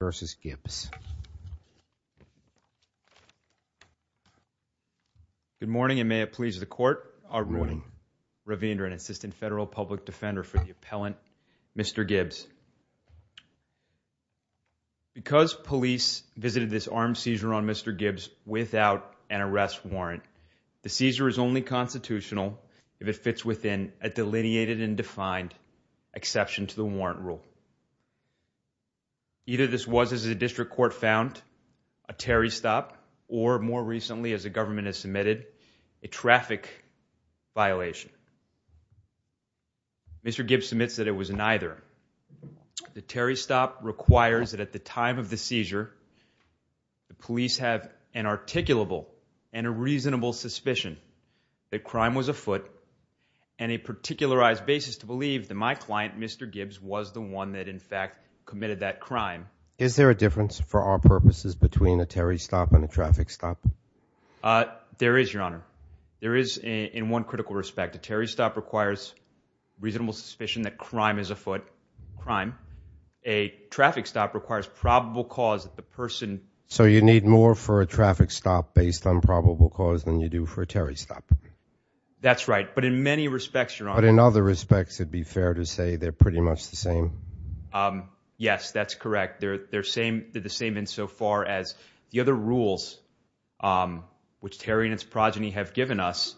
v. Gibbs. Good morning and may it please the court. I'm Ravinder, an assistant federal public defender for the appellant Mr. Gibbs. Because police visited this armed seizure on Mr. Gibbs without an arrest warrant, the seizure is only constitutional if it fits within a delineated and defined exception to the warrant rule. Either this was, as the district court found, a Terry stop, or more recently, as the government has submitted, a traffic violation. Mr. Gibbs submits that it was neither. The Terry stop requires that at the time of the seizure, the police have an articulable and a reasonable suspicion that crime was afoot and a particularized basis to believe that my client, Mr. Gibbs, was the one that in fact committed that crime. Is there a difference for our purposes between a Terry stop and a traffic stop? There is, your honor. There is in one critical respect. A Terry stop requires reasonable suspicion that crime is afoot. Crime. A traffic stop requires probable cause that the person... So you need more for a traffic stop based on probable cause than you do for a Terry stop? That's right. But in many respects, your honor. But in other respects, it'd be fair to say they're pretty much the same? Yes, that's correct. They're the same insofar as the other rules which Terry and its progeny have given us,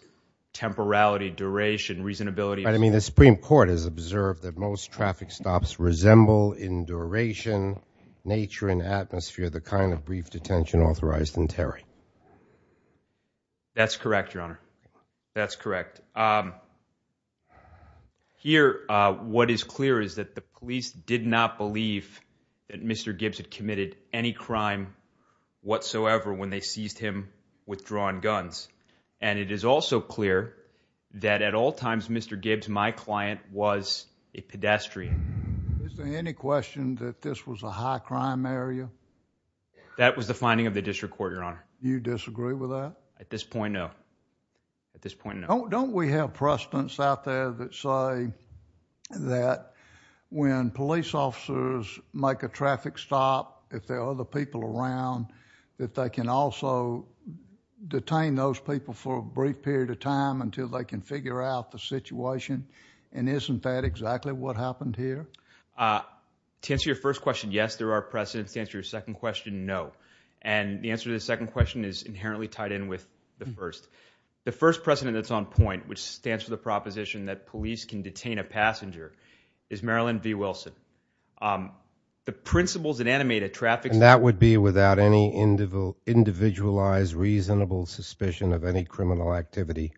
temporality, duration, reasonability... But I mean the Supreme Court has observed that most traffic stops resemble in duration, nature, and atmosphere the kind of brief detention authorized in Terry. That's correct, your honor. That's correct. Here, what is clear is that the police did not believe that Mr. Gibbs had committed any crime whatsoever when they seized him with drawn guns. And it is also clear that at all times, Mr. Gibbs, my client, was a pedestrian. Is there any question that this was a high crime area? That was the finding of the district court, your honor. You disagree with that? At this point, no. At this point, no. Don't we have precedents out there that say that when police officers make a traffic stop, if there are other people around, that they can also detain those people for a brief period of time until they can figure out the situation? And isn't that exactly what happened here? To answer your first question, yes. There are precedents. To answer your second question, no. And the answer to the second question is inherently tied in with the first. The first precedent that's on point, which stands for the proposition that police can detain a passenger, is Marilyn V. Wilson. The principles that animate a traffic stop And that would be without any individualized, reasonable suspicion of any criminal activity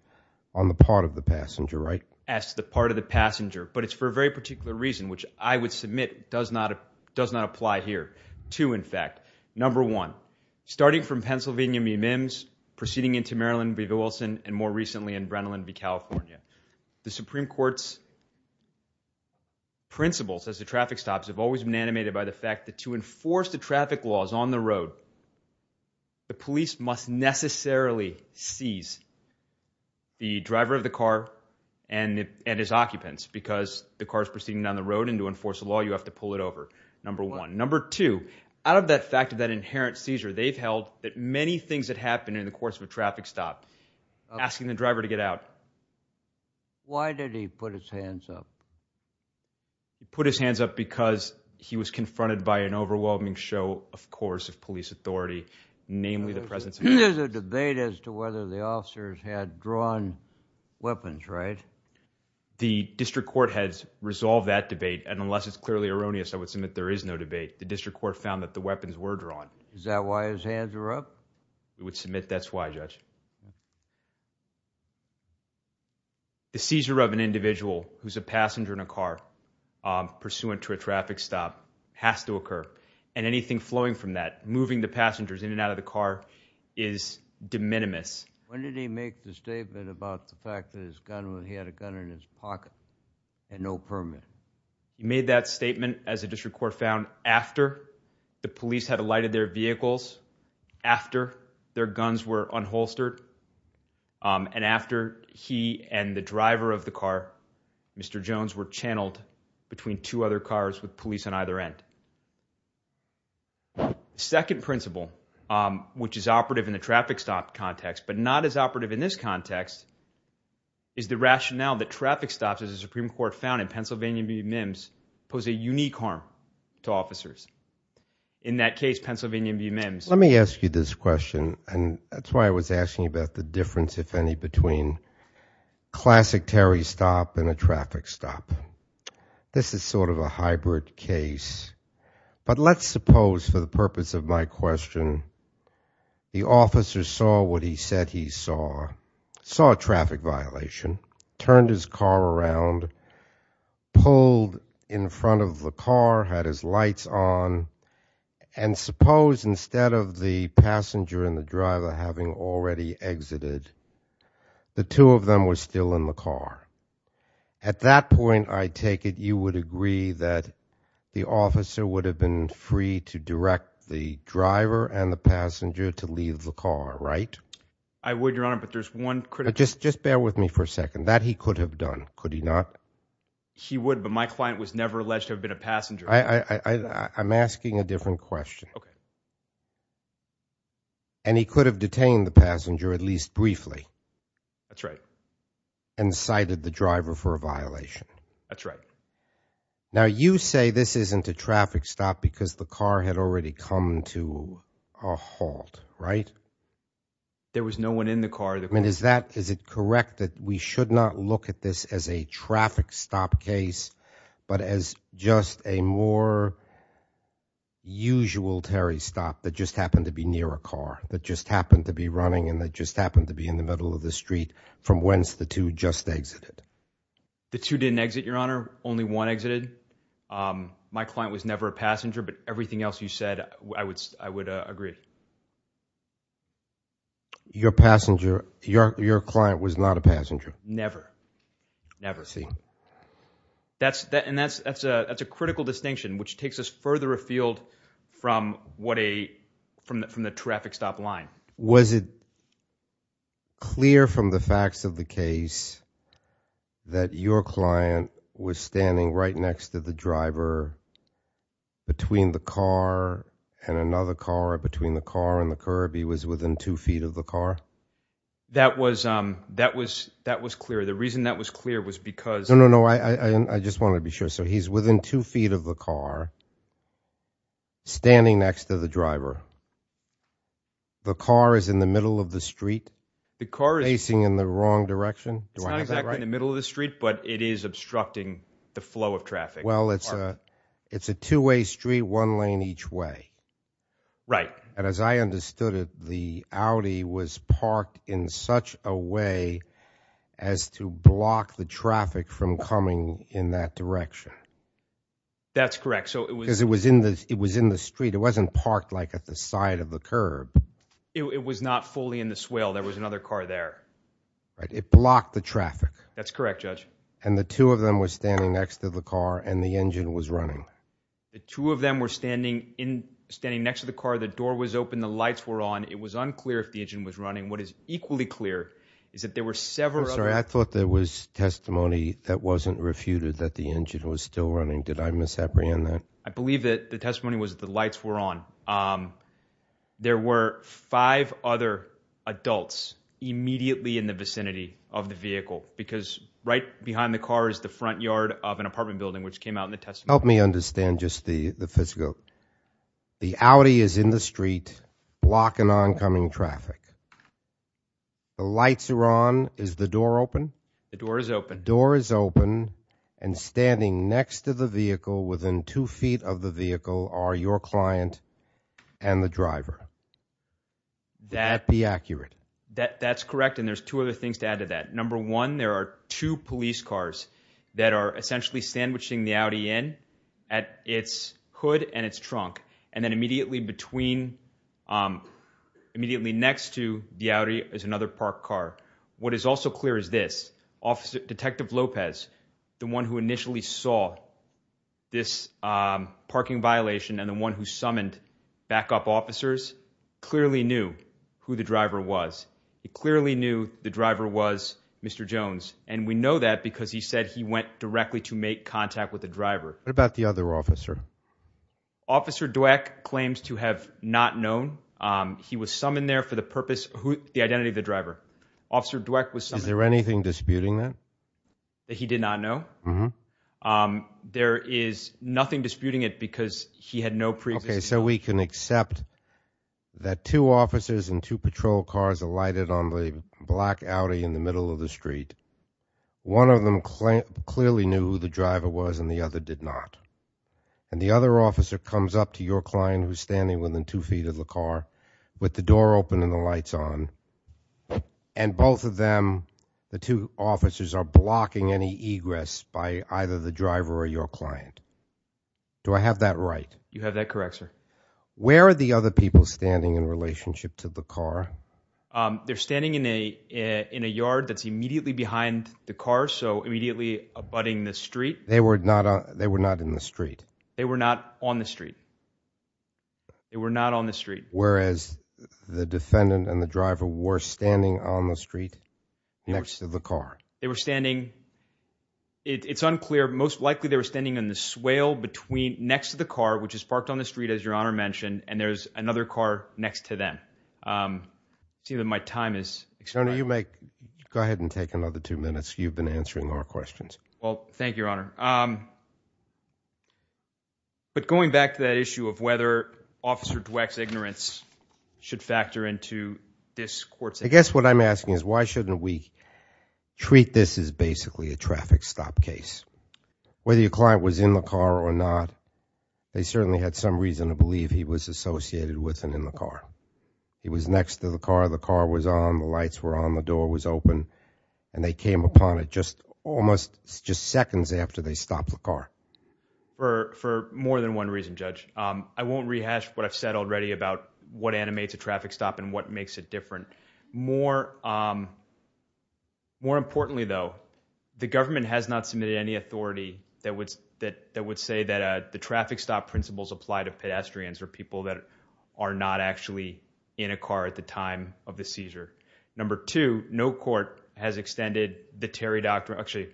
on the part of the passenger, right? As to the part of the passenger. But it's for a very particular reason, which I would submit does not apply here. Two, in fact. Number one, starting from Pennsylvania v. Mims, proceeding into Maryland v. Wilson, and more recently in Brennan v. California, the Supreme Court's principles as to traffic stops have always been animated by the fact that to enforce the traffic laws on the road, the police must necessarily seize the driver of the car and his occupants. Because the car's proceeding down the road and to enforce the law, you have to pull it over. Number one. Number two, out of that fact of that inherent seizure, they've held that many things that happen in the course of a traffic stop, asking the driver to get out. Why did he put his hands up? He put his hands up because he was confronted by an overwhelming show, of course, of police authority, namely the presence of hands. There's a debate as to whether the officers had drawn weapons, right? The district court has resolved that debate, and unless it's clearly erroneous, I would submit there is no debate. The district court found that the weapons were drawn. Is that why his hands were up? I would submit that's why, Judge. The seizure of an individual who's a passenger in a car, pursuant to a traffic stop, has to occur. And anything flowing from that, moving the passengers in and out of the car, is de minimis. When did he make the statement about the fact that he had a gun in his pocket and no permit? He made that statement, as the district court found, after the police had alighted their vehicles, after their guns were unholstered, and after he and the driver of the car, Mr. Jones, were channeled between two other cars with police on either end. Second principle, which is operative in the traffic stop context, but not as operative in this context, is the rationale that traffic stops, as the Supreme Court found in Pennsylvania v. Mims, pose a unique harm to officers. In that case, Pennsylvania v. Mims. Let me ask you this question, and that's why I was asking about the difference, if any, between classic Terry stop and a traffic stop. This is sort of a hybrid case. But let's suppose, for the purpose of my question, the officer saw what he said he saw, saw a traffic violation, turned his car around, pulled in front of the car, had his lights on, and suppose, instead of the passenger and the driver having already exited, the two of them were still in the car. At that point, I take it you would agree that the officer would have been free to direct the driver and the passenger to leave the car, right? I would, Your Honor, but there's one critical... Just bear with me for a second. That he could have done, could he not? He would, but my client was never alleged to have been a passenger. I'm asking a different question. Okay. And he could have detained the passenger, at least briefly. That's right. And cited the driver for a violation. That's right. Now, you say this isn't a traffic stop because the car had already come to a halt, right? There was no one in the car that... I mean, is that, is it correct that we should not look at this as a traffic stop case, but as just a more usual Terry stop that just happened to be near a car, that just happened to be running, and that just happened to be in the middle of the street from whence the two just exited? The two didn't exit, Your Honor. Only one exited. My client was never a passenger, but everything else you said, I would agree. Your passenger, your client was not a passenger? Never. Never. I see. And that's a critical distinction, which takes us further afield from the traffic stop line. Was it clear from the facts of the case that your client was standing right next to the driver between the car and another car, or between the car and the curb? He was within two feet of the car? That was clear. The reason that was clear was because... No, no, no. I just wanted to be sure. So he's within two feet of the car, standing next to the driver. The car is in the middle of the street, facing in the wrong direction? It's not exactly in the middle of the street, but it is obstructing the flow of traffic. Well, it's a two-way street, one lane each way. Right. And as I understood it, the Audi was parked in such a way as to block the traffic from coming in that direction. That's correct. Because it was in the street. It wasn't parked at the side of the curb. It was not fully in the swale. There was another car there. Right. It blocked the traffic. That's correct, Judge. And the two of them were standing next to the car, and the engine was running? The two of them were standing next to the car. The door was open. The lights were on. It was unclear if the engine was running. What is equally clear is that there were several... I'm sorry. I thought there was testimony that wasn't refuted, that the engine was still running. Did I misapprehend that? I believe that the testimony was that the lights were on. There were five other adults immediately in the vicinity of the vehicle, because right behind the car is the front yard of an apartment building, which came out in the testimony. Help me understand just the physical. The Audi is in the street, blocking oncoming traffic. The lights are on. Is the door open? The door is open. Door is open, and standing next to the vehicle, within two feet of the vehicle, are your client and the driver. That... Can that be accurate? That's correct, and there's two other things to add to that. Number one, there are two police cars that are essentially sandwiching the Audi in at its hood and its trunk, and then immediately between... Immediately next to the Audi is another parked car. What is also clear is this, Detective Lopez, the one who initially saw this parking violation, and the one who summoned backup officers, clearly knew who the driver was. He clearly knew the driver was Mr. Jones, and we know that because he said he went directly to make contact with the driver. What about the other officer? Officer Dweck claims to have not known. He was summoned there for the purpose... The identity of the driver. Officer Dweck was summoned... Is there anything disputing that? That he did not know? There is nothing disputing it, because he had no pre-existing knowledge. So we can accept that two officers and two patrol cars alighted on the black Audi in the middle of the street. One of them clearly knew who the driver was, and the other did not, and the other officer comes up to your client who's standing within two feet of the car with the door open and the lights on, and both of them, the two officers, are blocking any egress by either the driver or your client. Do I have that right? You have that correct, sir. Where are the other people standing in relationship to the car? They're standing in a yard that's immediately behind the car, so immediately abutting the street. They were not in the street? They were not on the street. They were not on the street. Whereas the defendant and the driver were standing on the street next to the car? They were standing... It's unclear. Most likely, they were standing in the swale next to the car, which is parked on the street, as Your Honor mentioned, and there's another car next to them. It seems that my time is... Go ahead and take another two minutes. You've been answering our questions. Well, thank you, Your Honor. But going back to that issue of whether Officer Dweck's ignorance should factor into this court's... I guess what I'm asking is why shouldn't we treat this as basically a traffic stop case? Whether your client was in the car or not, they certainly had some reason to believe he was associated with and in the car. He was next to the car, the car was on, the lights were on, the door was open, and they came upon it just almost just seconds after they stopped the car. For more than one reason, Judge. I won't rehash what I've said already about what animates a traffic stop and what makes it different. More importantly, though, the government has not submitted any authority that would say that the traffic stop principles apply to pedestrians or people that are not actually in a car at the time of the seizure. Number two, no court has extended the Terry Doctrine... Actually,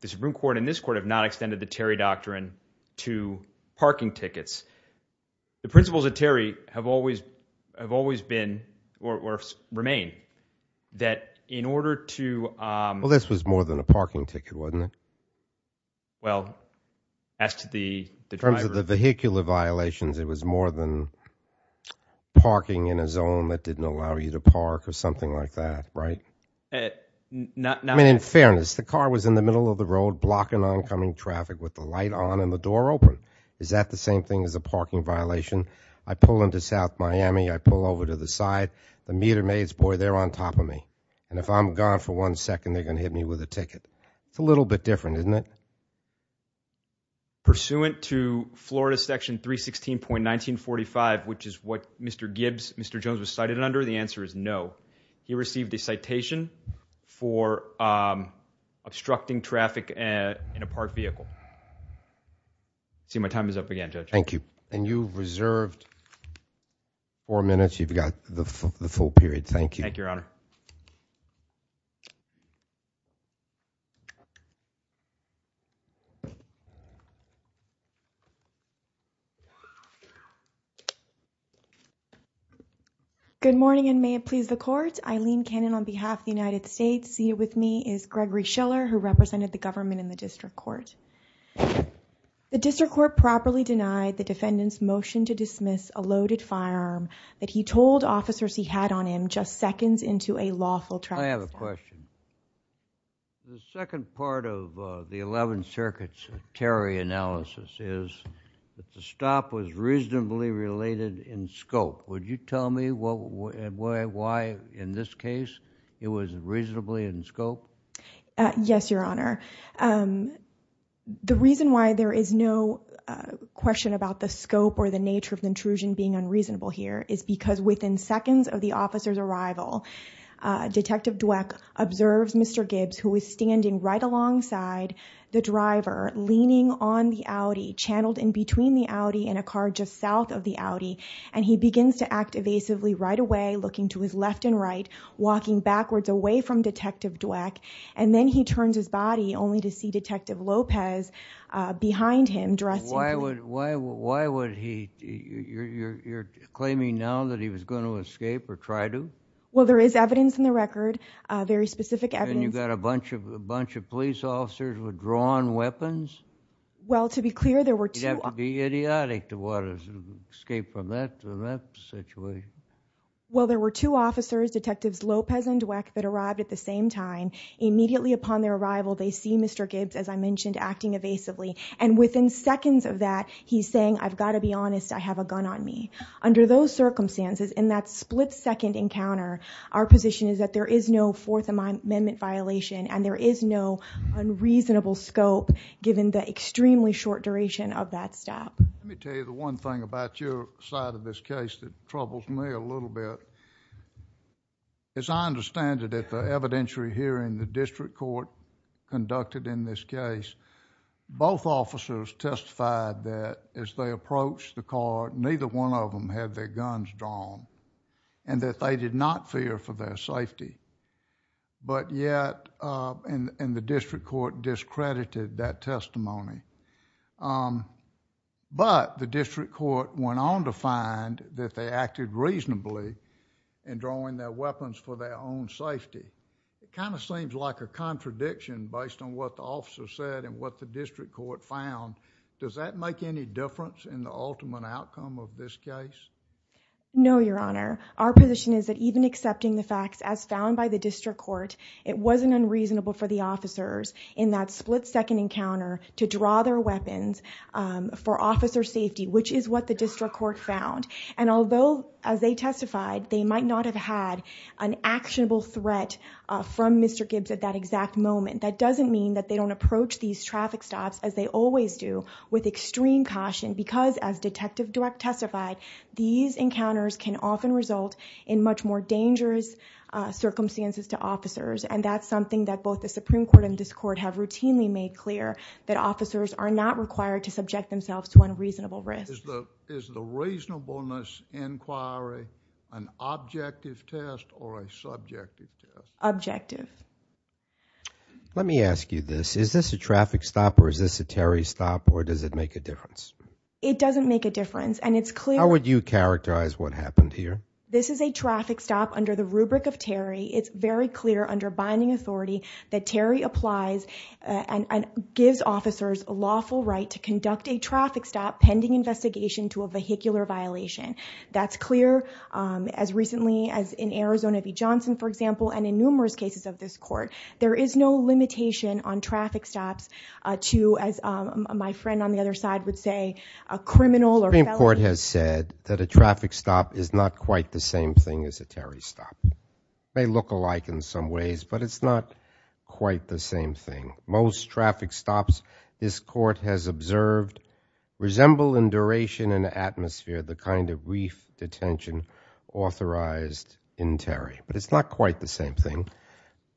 the Supreme Court and this court have not extended the Terry Doctrine to parking tickets. The principles of Terry have always been, or remain, that in order to... Well, this was more than a parking ticket, wasn't it? Well, as to the driver... In terms of the vehicular violations, it was more than parking in a zone that didn't allow you to park or something like that, right? I mean, in fairness, the car was in the middle of the road blocking oncoming traffic with the light on and the door open. Is that the same thing as a parking violation? I pull into South Miami, I pull over to the side, the meter maids, boy, they're on top of me. And if I'm gone for one second, they're going to hit me with a ticket. It's a little bit different, isn't it? Pursuant to Florida section 316.1945, which is what Mr. Gibbs, Mr. Jones was cited under, the answer is no. He received a citation for obstructing traffic in a parked vehicle. I see my time is up again, Judge. Thank you. And you've reserved four minutes. You've got the full period. Thank you. Thank you, Your Honor. Good morning, and may it please the court. Eileen Cannon on behalf of the United States. Here with me is Gregory Schiller, who represented the government in the district court. The district court properly denied the defendant's motion to dismiss a loaded firearm that he told officers he had on him just seconds into a lawful trial. I have a question. The second part of the 11th Circuit's Terry analysis is that the stop was reasonably related in scope. Would you tell me why in this case it was reasonably in scope? Yes, Your Honor. The reason why there is no question about the scope or the nature of the intrusion being unreasonable here is because within seconds of the officer's arrival, Detective Dweck observes Mr. Gibbs, who is standing right alongside the driver, leaning on the Audi, channeled in between the Audi in a car just south of the Audi. And he begins to act evasively right away, looking to his left and right, walking backwards away from Detective Dweck. And then he turns his body only to see Detective Lopez behind him, dressed in black. Why would he? You're claiming now that he was going to escape or try to? Well, there is evidence in the record, very specific evidence. And you've got a bunch of police officers with drawn weapons? Well, to be clear, there were two. You'd have to be idiotic to want to escape from that situation. Well, there were two officers, Detectives Lopez and Dweck, that arrived at the same time. Immediately upon their arrival, they see Mr. Gibbs, as I mentioned, acting evasively. And within seconds of that, he's saying, I've got to be honest. I have a gun on me. Under those circumstances, in that split-second encounter, our position is that there is no amendment violation. And there is no unreasonable scope, given the extremely short duration of that stop. Let me tell you the one thing about your side of this case that troubles me a little bit. As I understand it, at the evidentiary hearing the district court conducted in this case, both officers testified that as they approached the car, neither one of them had their guns drawn, and that they did not fear for their safety. But yet, and the district court discredited that testimony. But the district court went on to find that they acted reasonably in drawing their weapons for their own safety. It kind of seems like a contradiction based on what the officer said and what the district court found. Does that make any difference in the ultimate outcome of this case? No, Your Honor. Our position is that even accepting the facts as found by the district court, it wasn't unreasonable for the officers in that split-second encounter to draw their weapons for officer safety, which is what the district court found. And although, as they testified, they might not have had an actionable threat from Mr. Gibbs at that exact moment, that doesn't mean that they don't approach these traffic stops as they always do, with extreme caution. Because as Detective Dweck testified, these encounters can often result in much more dangerous circumstances to officers. And that's something that both the Supreme Court and this court have routinely made clear that officers are not required to subject themselves to unreasonable risk. Is the reasonableness inquiry an objective test or a subjective test? Objective. Let me ask you this. Is this a traffic stop or is this a Terry stop, or does it make a difference? It doesn't make a difference. And it's clear— How would you characterize what happened here? This is a traffic stop under the rubric of Terry. It's very clear under binding authority that Terry applies and gives officers a lawful right to conduct a traffic stop pending investigation to a vehicular violation. That's clear as recently as in Arizona v. Johnson, for example, and in numerous cases of this court. There is no limitation on traffic stops to, as my friend on the other side would say, a criminal or felony— The Supreme Court has said that a traffic stop is not quite the same thing as a Terry stop. It may look alike in some ways, but it's not quite the same thing. Most traffic stops this court has observed resemble in duration and atmosphere the kind of brief detention authorized in Terry. But it's not quite the same thing,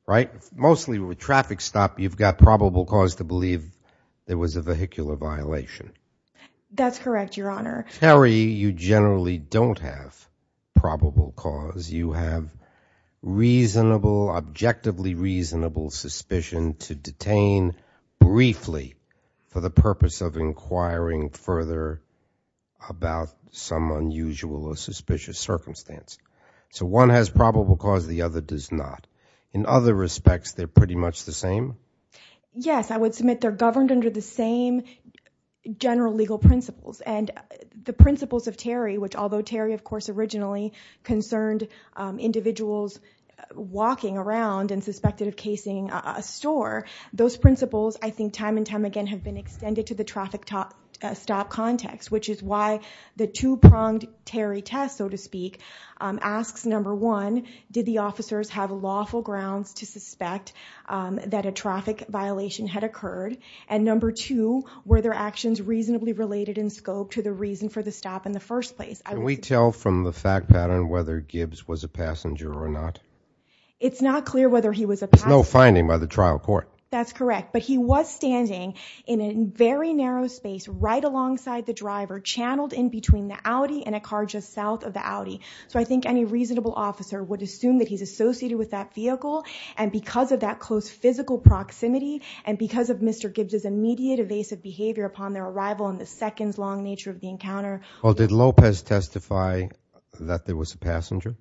right? Mostly with traffic stop, you've got probable cause to believe there was a vehicular violation. That's correct, Your Honor. Terry, you generally don't have probable cause. You have reasonable, objectively reasonable suspicion to detain briefly for the purpose of inquiring further about some unusual or suspicious circumstance. So one has probable cause, the other does not. In other respects, they're pretty much the same? Yes, I would submit they're governed under the same general legal principles. And the principles of Terry, which although Terry, of course, originally concerned individuals walking around and suspected of casing a store, those principles, I think, time and time again have been extended to the traffic stop context, which is why the two-pronged test, so to speak, asks, number one, did the officers have lawful grounds to suspect that a traffic violation had occurred? And number two, were their actions reasonably related in scope to the reason for the stop in the first place? Can we tell from the fact pattern whether Gibbs was a passenger or not? It's not clear whether he was a passenger. There's no finding by the trial court. That's correct. But he was standing in a very narrow space right alongside the driver, channeled in between the Audi and a car just south of the Audi. So I think any reasonable officer would assume that he's associated with that vehicle. And because of that close physical proximity and because of Mr. Gibbs' immediate evasive behavior upon their arrival and the seconds-long nature of the encounter. Well, did Lopez testify that there was a passenger?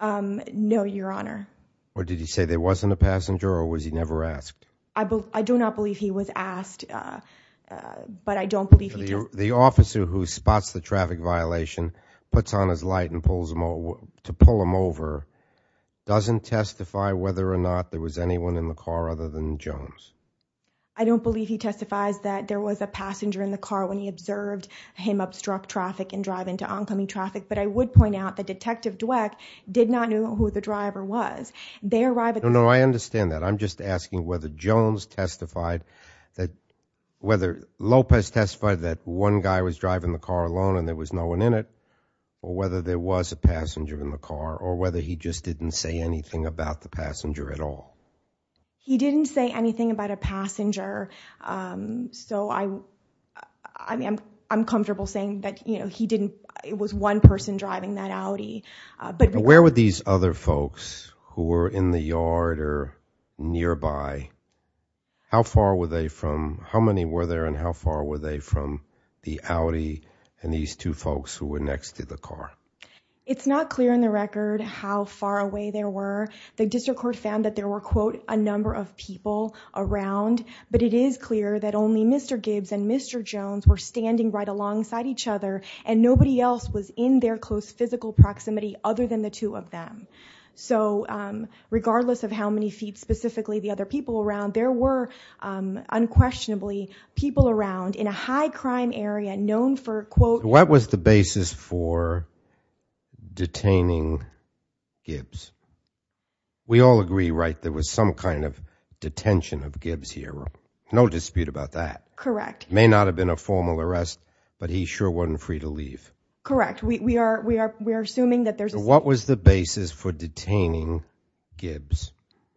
No, Your Honor. Or did he say there wasn't a passenger or was he never asked? The officer who spots the traffic violation, puts on his light to pull him over, doesn't testify whether or not there was anyone in the car other than Jones. I don't believe he testifies that there was a passenger in the car when he observed him obstruct traffic and drive into oncoming traffic. But I would point out that Detective Dweck did not know who the driver was. They arrived at the- No, no, I understand that. I'm just asking whether Lopez testified that one guy was driving the car alone and there was no one in it or whether there was a passenger in the car or whether he just didn't say anything about the passenger at all. He didn't say anything about a passenger. So I'm comfortable saying that it was one person driving that Audi. Where were these other folks who were in the yard or nearby? How many were there and how far were they from the Audi and these two folks who were next to the car? It's not clear in the record how far away they were. The district court found that there were, quote, a number of people around. But it is clear that only Mr. Gibbs and Mr. Jones were standing right alongside each other and nobody else was in their close physical proximity other than the two of them. So regardless of how many feet specifically the other people around, there were unquestionably people around in a high crime area known for, quote- What was the basis for detaining Gibbs? We all agree, right, there was some kind of detention of Gibbs here, right? No dispute about that. Correct. May not have been a formal arrest, but he sure wasn't free to leave. Correct. We are assuming that there's- What was the basis for detaining Gibbs?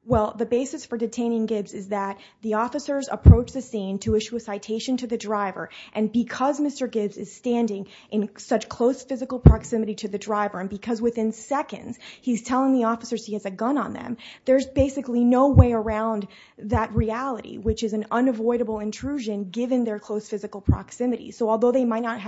Well, the basis for detaining Gibbs is that the officers approach the scene to issue a citation to the driver and because Mr. Gibbs is standing in such close physical proximity to the driver and because within seconds he's telling the officers he has a gun on them, there's basically no way around that reality, which is an unavoidable intrusion given their close physical proximity. So although they might not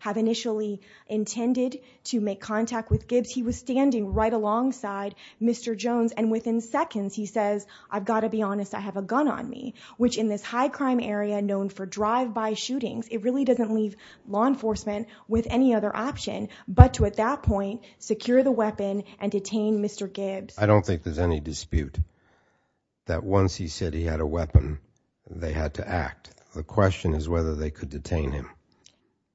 have initially intended to make contact with Gibbs, he was standing right alongside Mr. Jones and within seconds he says, I've got to be honest, I have a gun on me, which in this high crime area known for drive-by shootings, it really doesn't leave law enforcement with any other option but to at that point secure the weapon and detain Mr. Gibbs. I don't think there's any dispute that once he said he had a weapon, they had to act. The question is whether they could detain him.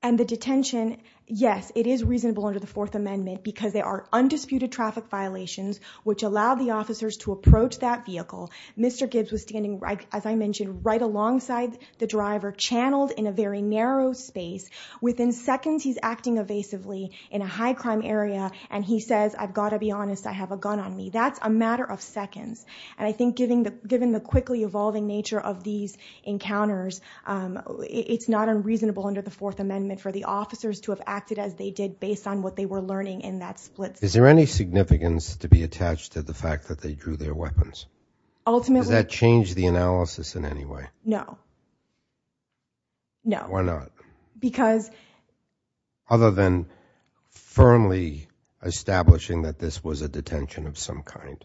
And the detention, yes, it is reasonable under the Fourth Amendment because there are undisputed traffic violations which allow the officers to approach that vehicle. Mr. Gibbs was standing, as I mentioned, right alongside the driver, channeled in a very narrow space. Within seconds, he's acting evasively in a high crime area and he says, I've got to be honest, I have a gun on me. That's a matter of seconds. And I think given the quickly evolving nature of these encounters, it's not unreasonable under the Fourth Amendment for the officers to have acted as they did based on what they were learning in that split second. Is there any significance to be attached to the fact that they drew their weapons? Ultimately. Does that change the analysis in any way? No. No. Why not? Because... Other than firmly establishing that this was a detention of some kind.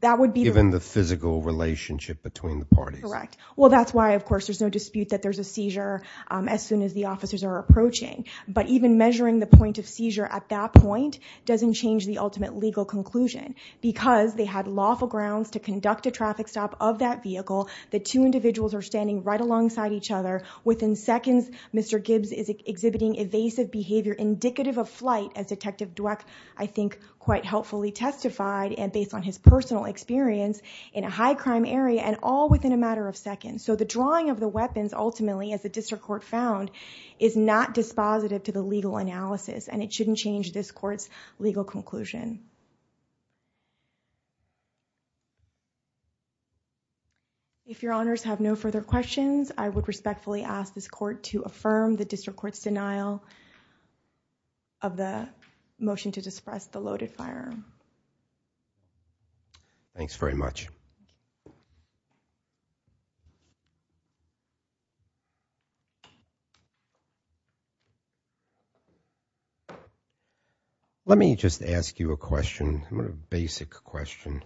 That would be... Given the physical relationship between the parties. Correct. Well, that's why, of course, there's no dispute that there's a seizure as soon as the officers are approaching. But even measuring the point of seizure at that point doesn't change the ultimate legal conclusion because they had lawful grounds to conduct a traffic stop of that vehicle. The two individuals are standing right alongside each other within seconds. Mr. Gibbs is exhibiting evasive behavior indicative of flight as Detective Dweck, I think, quite helpfully testified and based on his personal experience in a high crime area and all within a matter of seconds. So the drawing of the weapons, ultimately, as the district court found is not dispositive to the legal analysis and it shouldn't change this court's legal conclusion. If your honors have no further questions, I would respectfully ask this court to affirm the district court's denial of the motion to disperse the loaded firearm. Thanks very much. Let me just ask you a question, a basic question.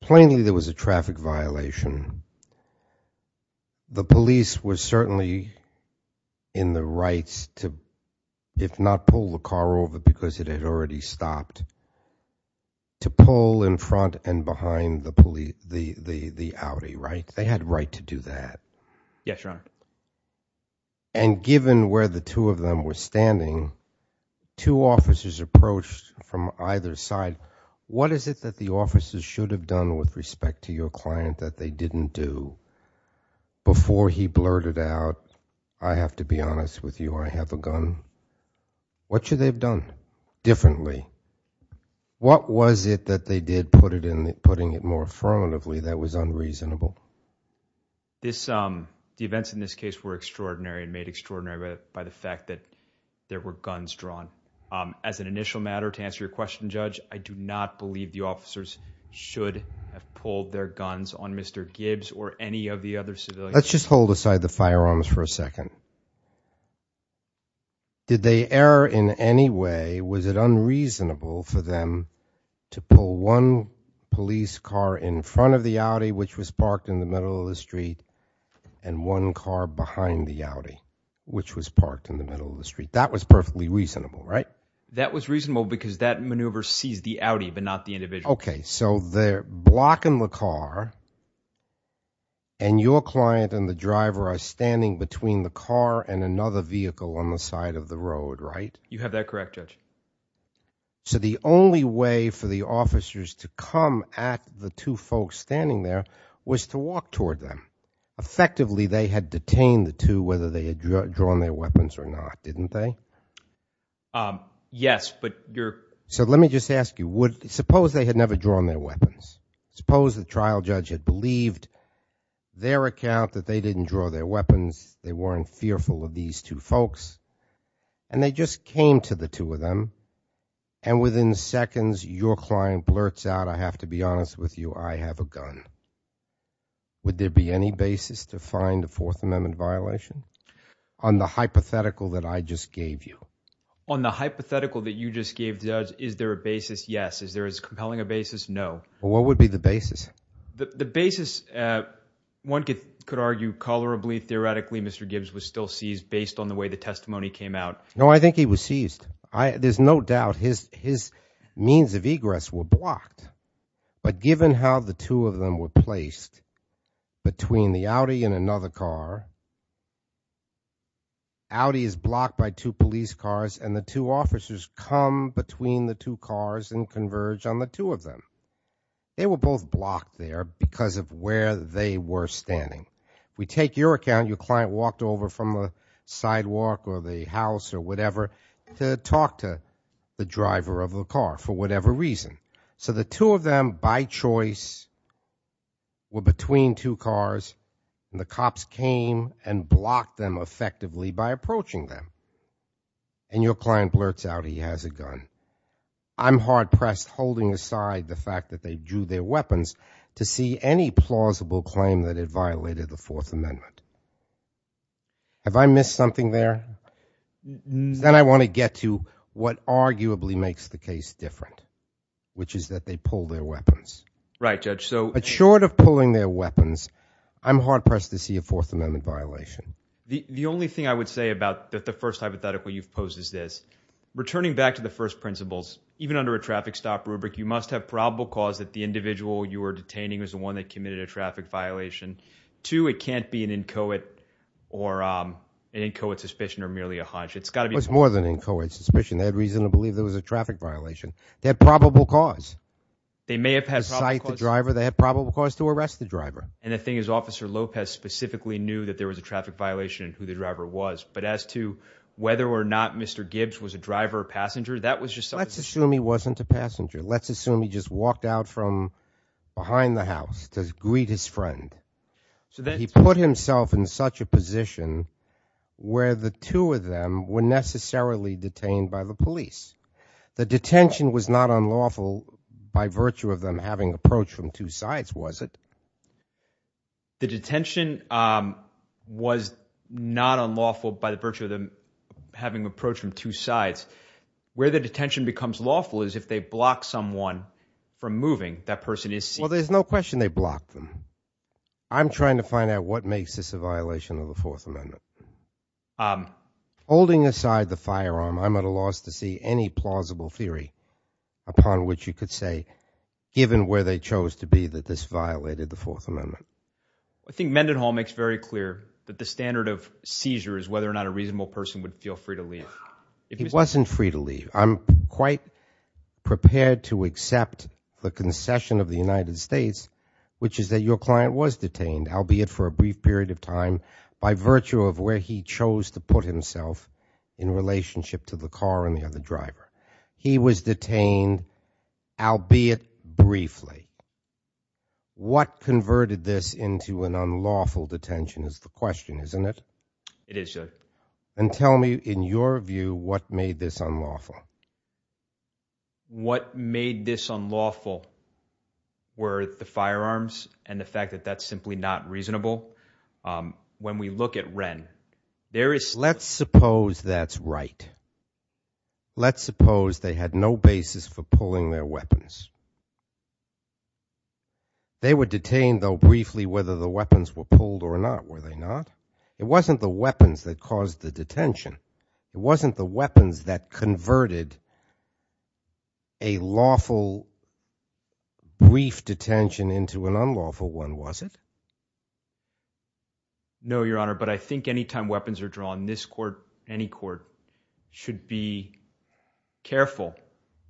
Plainly, there was a traffic violation the police were certainly in the rights to, if not pull the car over because it had already stopped, to pull in front and behind the Audi, right? They had right to do that. Yes, your honor. And given where the two of them were standing, two officers approached from either side, what is it that the officers should have done with respect to your client that they didn't do? Before he blurted out, I have to be honest with you, I have a gun. What should they have done differently? What was it that they did putting it more affirmatively that was unreasonable? The events in this case were extraordinary and made extraordinary by the fact that there were guns drawn. As an initial matter, to answer your question, Judge, I do not believe the officers should have pulled their guns on Mr. Gibbs or any of the other civilians. Let's just hold aside the firearms for a second. Did they err in any way? Was it unreasonable for them to pull one police car in front of the Audi, which was parked in the middle of the street, and one car behind the Audi, which was parked in the middle of the street? That was perfectly reasonable, right? That was reasonable because that maneuver sees the Audi, but not the individual. Okay, so they're blocking the car, and your client and the driver are standing between the car and another vehicle on the side of the road, right? You have that correct, Judge. So the only way for the officers to come at the two folks standing there was to walk toward them. Effectively, they had detained the two, whether they had drawn their weapons or not, didn't they? Yes, but you're... So let me just ask you, suppose they had never drawn their weapons. Suppose the trial judge had believed their account that they didn't draw their weapons, they weren't fearful of these two folks, and they just came to the two of them, and within seconds, your client blurts out, I have to be honest with you, I have a gun. Would there be any basis to find a Fourth Amendment violation on the hypothetical that I just gave you? On the hypothetical that you just gave, Judge, is there a basis? Yes. Is there as compelling a basis? No. What would be the basis? The basis, one could argue colorably, theoretically, Mr. Gibbs was still seized based on the way the testimony came out. No, I think he was seized. There's no doubt his means of egress were blocked, but given how the two of them were placed between the Audi and another car, Audi is blocked by two police cars, and the two officers come between the two cars and converge on the two of them. They were both blocked there because of where they were standing. We take your account, your client walked over from a sidewalk or the house or whatever to talk to the driver of the car for whatever reason. So the two of them by choice were between two cars, and the cops came and blocked them effectively by approaching them. And your client blurts out he has a gun. I'm hard pressed holding aside the fact that they drew their weapons to see any plausible claim that it violated the Fourth Amendment. Have I missed something there? Then I want to get to what arguably makes the case different, which is that they pull their weapons. Right, Judge. So short of pulling their weapons, I'm hard pressed to see a Fourth Amendment violation. The only thing I would say about the first hypothetical you've posed is this. Returning back to the first principles, even under a traffic stop rubric, you must have probable cause that the individual you were detaining was the one that committed a traffic violation. Two, it can't be an inchoate or an inchoate suspicion or merely a hunch. It's got to be- It's more than an inchoate suspicion. They had reason to believe there was a traffic violation. They had probable cause. They may have had probable cause- To cite the driver, they had probable cause to arrest the driver. The thing is, Officer Lopez specifically knew that there was a traffic violation and who the driver was. But as to whether or not Mr. Gibbs was a driver or passenger, that was just something- Let's assume he wasn't a passenger. Let's assume he just walked out from behind the house to greet his friend. He put himself in such a position where the two of them were necessarily detained by the police. The detention was not unlawful by virtue of them having approach from two sides, was it? The detention was not unlawful by the virtue of them having approach from two sides. Where the detention becomes lawful is if they block someone from moving. That person is seen- Well, there's no question they blocked them. I'm trying to find out what makes this a violation of the Fourth Amendment. Holding aside the firearm, I'm at a loss to see any plausible theory upon which you could say, given where they chose to be, that this violated the Fourth Amendment. I think Mendenhall makes very clear that the standard of seizure is whether or not a reasonable person would feel free to leave. He wasn't free to leave. I'm quite prepared to accept the concession of the United States, which is that your client was detained, albeit for a brief period of time, by virtue of where he chose to put himself in relationship to the car and the other driver. He was detained, albeit briefly. What converted this into an unlawful detention is the question, isn't it? It is, Judge. And tell me, in your view, what made this unlawful? What made this unlawful were the firearms and the fact that that's simply not reasonable. When we look at Wren, there is- Let's suppose that's right. Let's suppose they had no basis for pulling their weapons. They were detained, though, briefly, whether the weapons were pulled or not, were they not? It wasn't the weapons that caused the detention. It wasn't the weapons that converted a lawful, brief detention into an unlawful one, was it? No, Your Honor. But I think any time weapons are drawn, this court, any court, should be careful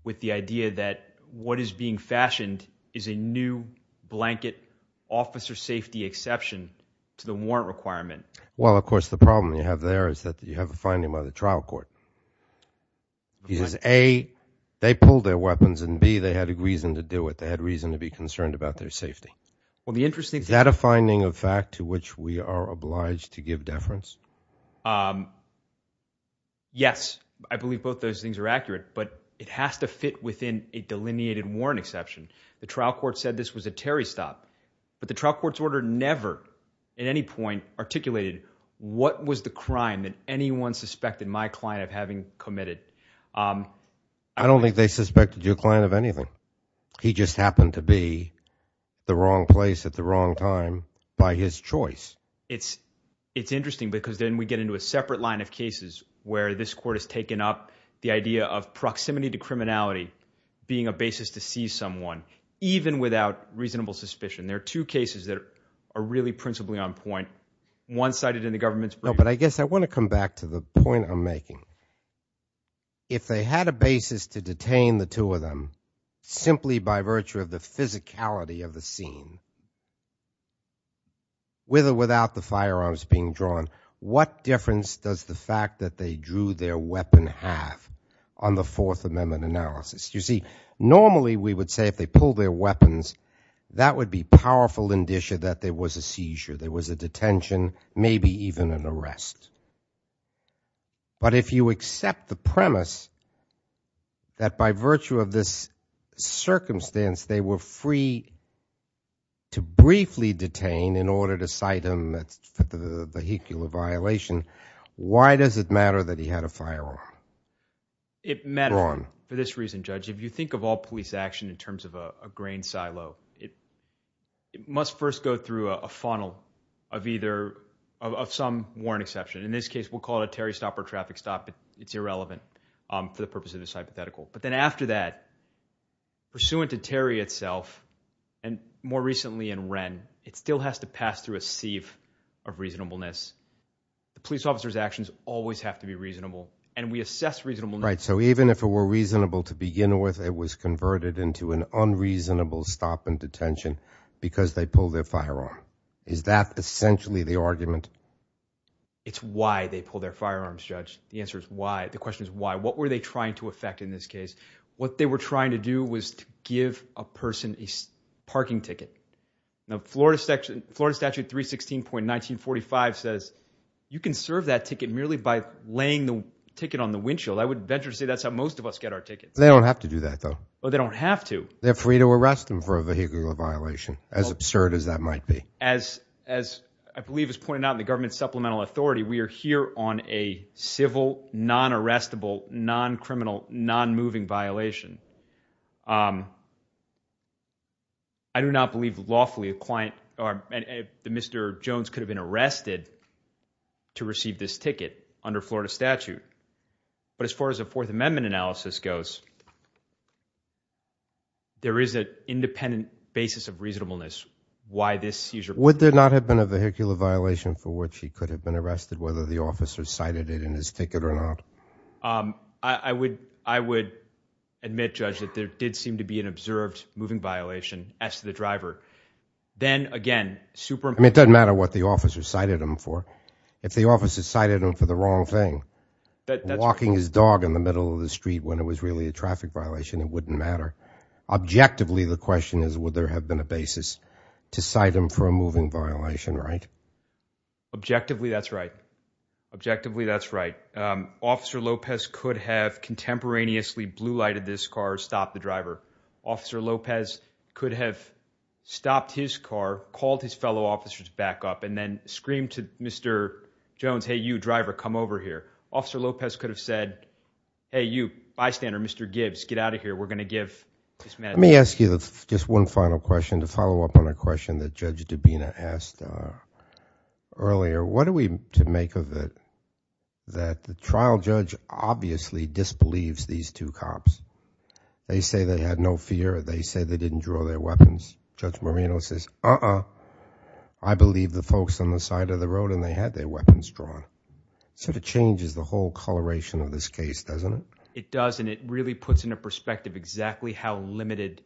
with the idea that what is being fashioned is a new blanket officer safety exception to the warrant requirement. Well, of course, the problem you have there is that you have a finding by the trial court. He says, A, they pulled their weapons, and B, they had a reason to do it. They had reason to be concerned about their safety. Well, the interesting thing- Is that a finding of fact to which we are obliged to give deference? Yes. I believe both those things are accurate, but it has to fit within a delineated warrant exception. The trial court said this was a Terry stop, but the trial court's order never, at any point, articulated what was the crime that anyone suspected my client of having committed. I don't think they suspected your client of anything. He just happened to be the wrong place at the wrong time by his choice. It's interesting because then we get into a separate line of cases where this court has taken up the idea of proximity to criminality being a basis to see someone, even without reasonable suspicion. There are two cases that are really principally on point. One cited in the government's brief- No, but I guess I want to come back to the point I'm making. If they had a basis to detain the two of them, simply by virtue of the physicality of the scene, with or without the firearms being drawn, what difference does the fact that they drew their weapon have on the Fourth Amendment analysis? You see, normally we would say if they pull their weapons, that would be powerful indicia that there was a seizure, there was a detention, maybe even an arrest. But if you accept the premise that by virtue of this circumstance, they were free to briefly detain in order to cite them as vehicular violation, why does it matter that he had a firearm? It matters for this reason, Judge. If you think of all police action in terms of a grain silo, it must first go through a funnel of some warrant exception. In this case, we'll call it a Terry stop or traffic stop, but it's irrelevant for the purpose of this hypothetical. But then after that, pursuant to Terry itself, and more recently in Wren, it still has to pass through a sieve of reasonableness. The police officer's actions always have to be reasonable, and we assess reasonable. Right, so even if it were reasonable to begin with, it was converted into an unreasonable stop and detention because they pulled their firearm. Is that essentially the argument? It's why they pull their firearms, Judge. The answer is why. The question is why. What were they trying to affect in this case? What they were trying to do was to give a person a parking ticket. Now, Florida statute 316.1945 says you can serve that ticket merely by laying the ticket on the windshield. I would venture to say that's how most of us get our tickets. They don't have to do that, though. But they don't have to. They're free to arrest them for a vehicular violation, as absurd as that might be. As I believe is pointed out in the government supplemental authority, we are here on a civil, non-moving violation. I do not believe lawfully a client, Mr. Jones, could have been arrested to receive this ticket under Florida statute. But as far as a Fourth Amendment analysis goes, there is an independent basis of reasonableness why this seizure. Would there not have been a vehicular violation for which he could have been arrested whether the officer cited it in his ticket or not? I would admit, Judge, that there did seem to be an observed moving violation as to the driver. Then again, super- I mean, it doesn't matter what the officer cited him for. If the officer cited him for the wrong thing, walking his dog in the middle of the street when it was really a traffic violation, it wouldn't matter. Objectively, the question is, would there have been a basis to cite him for a moving violation, right? Objectively, that's right. Objectively, that's right. Officer Lopez could have contemporaneously blue-lighted this car, stopped the driver. Officer Lopez could have stopped his car, called his fellow officers back up, and then screamed to Mr. Jones, hey, you driver, come over here. Officer Lopez could have said, hey, you bystander, Mr. Gibbs, get out of here. We're going to give this man- Let me ask you just one final question to follow up on a question that Judge Dubina asked earlier. What are we to make of it that the trial judge obviously disbelieves these two cops? They say they had no fear. They say they didn't draw their weapons. Judge Marino says, uh-uh. I believe the folks on the side of the road and they had their weapons drawn. It sort of changes the whole coloration of this case, doesn't it? It does, and it really puts into perspective exactly how limited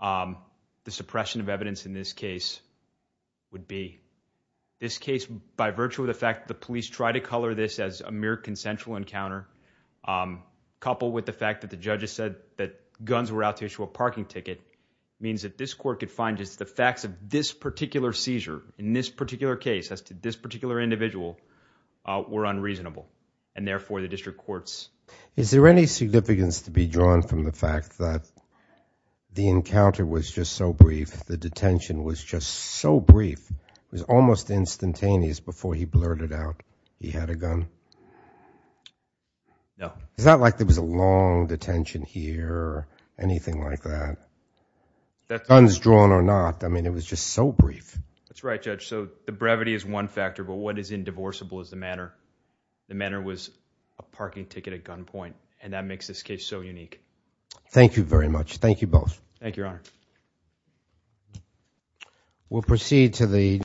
the suppression of evidence in this case would be. This case, by virtue of the fact that the police tried to color this as a mere consensual encounter, um, coupled with the fact that the judges said that guns were out to issue a parking ticket, means that this court could find just the facts of this particular seizure in this particular case as to this particular individual were unreasonable. And therefore, the district courts- Is there any significance to be drawn from the fact that the encounter was just so brief, the detention was just so brief, it was almost instantaneous before he blurted out he had a gun? No. Is that like there was a long detention here or anything like that? Guns drawn or not, I mean, it was just so brief. That's right, Judge. So the brevity is one factor, but what is indivisible is the manner. The manner was a parking ticket at gunpoint, and that makes this case so unique. Thank you very much. Thank you both. Thank you, Your Honor. We'll proceed to the-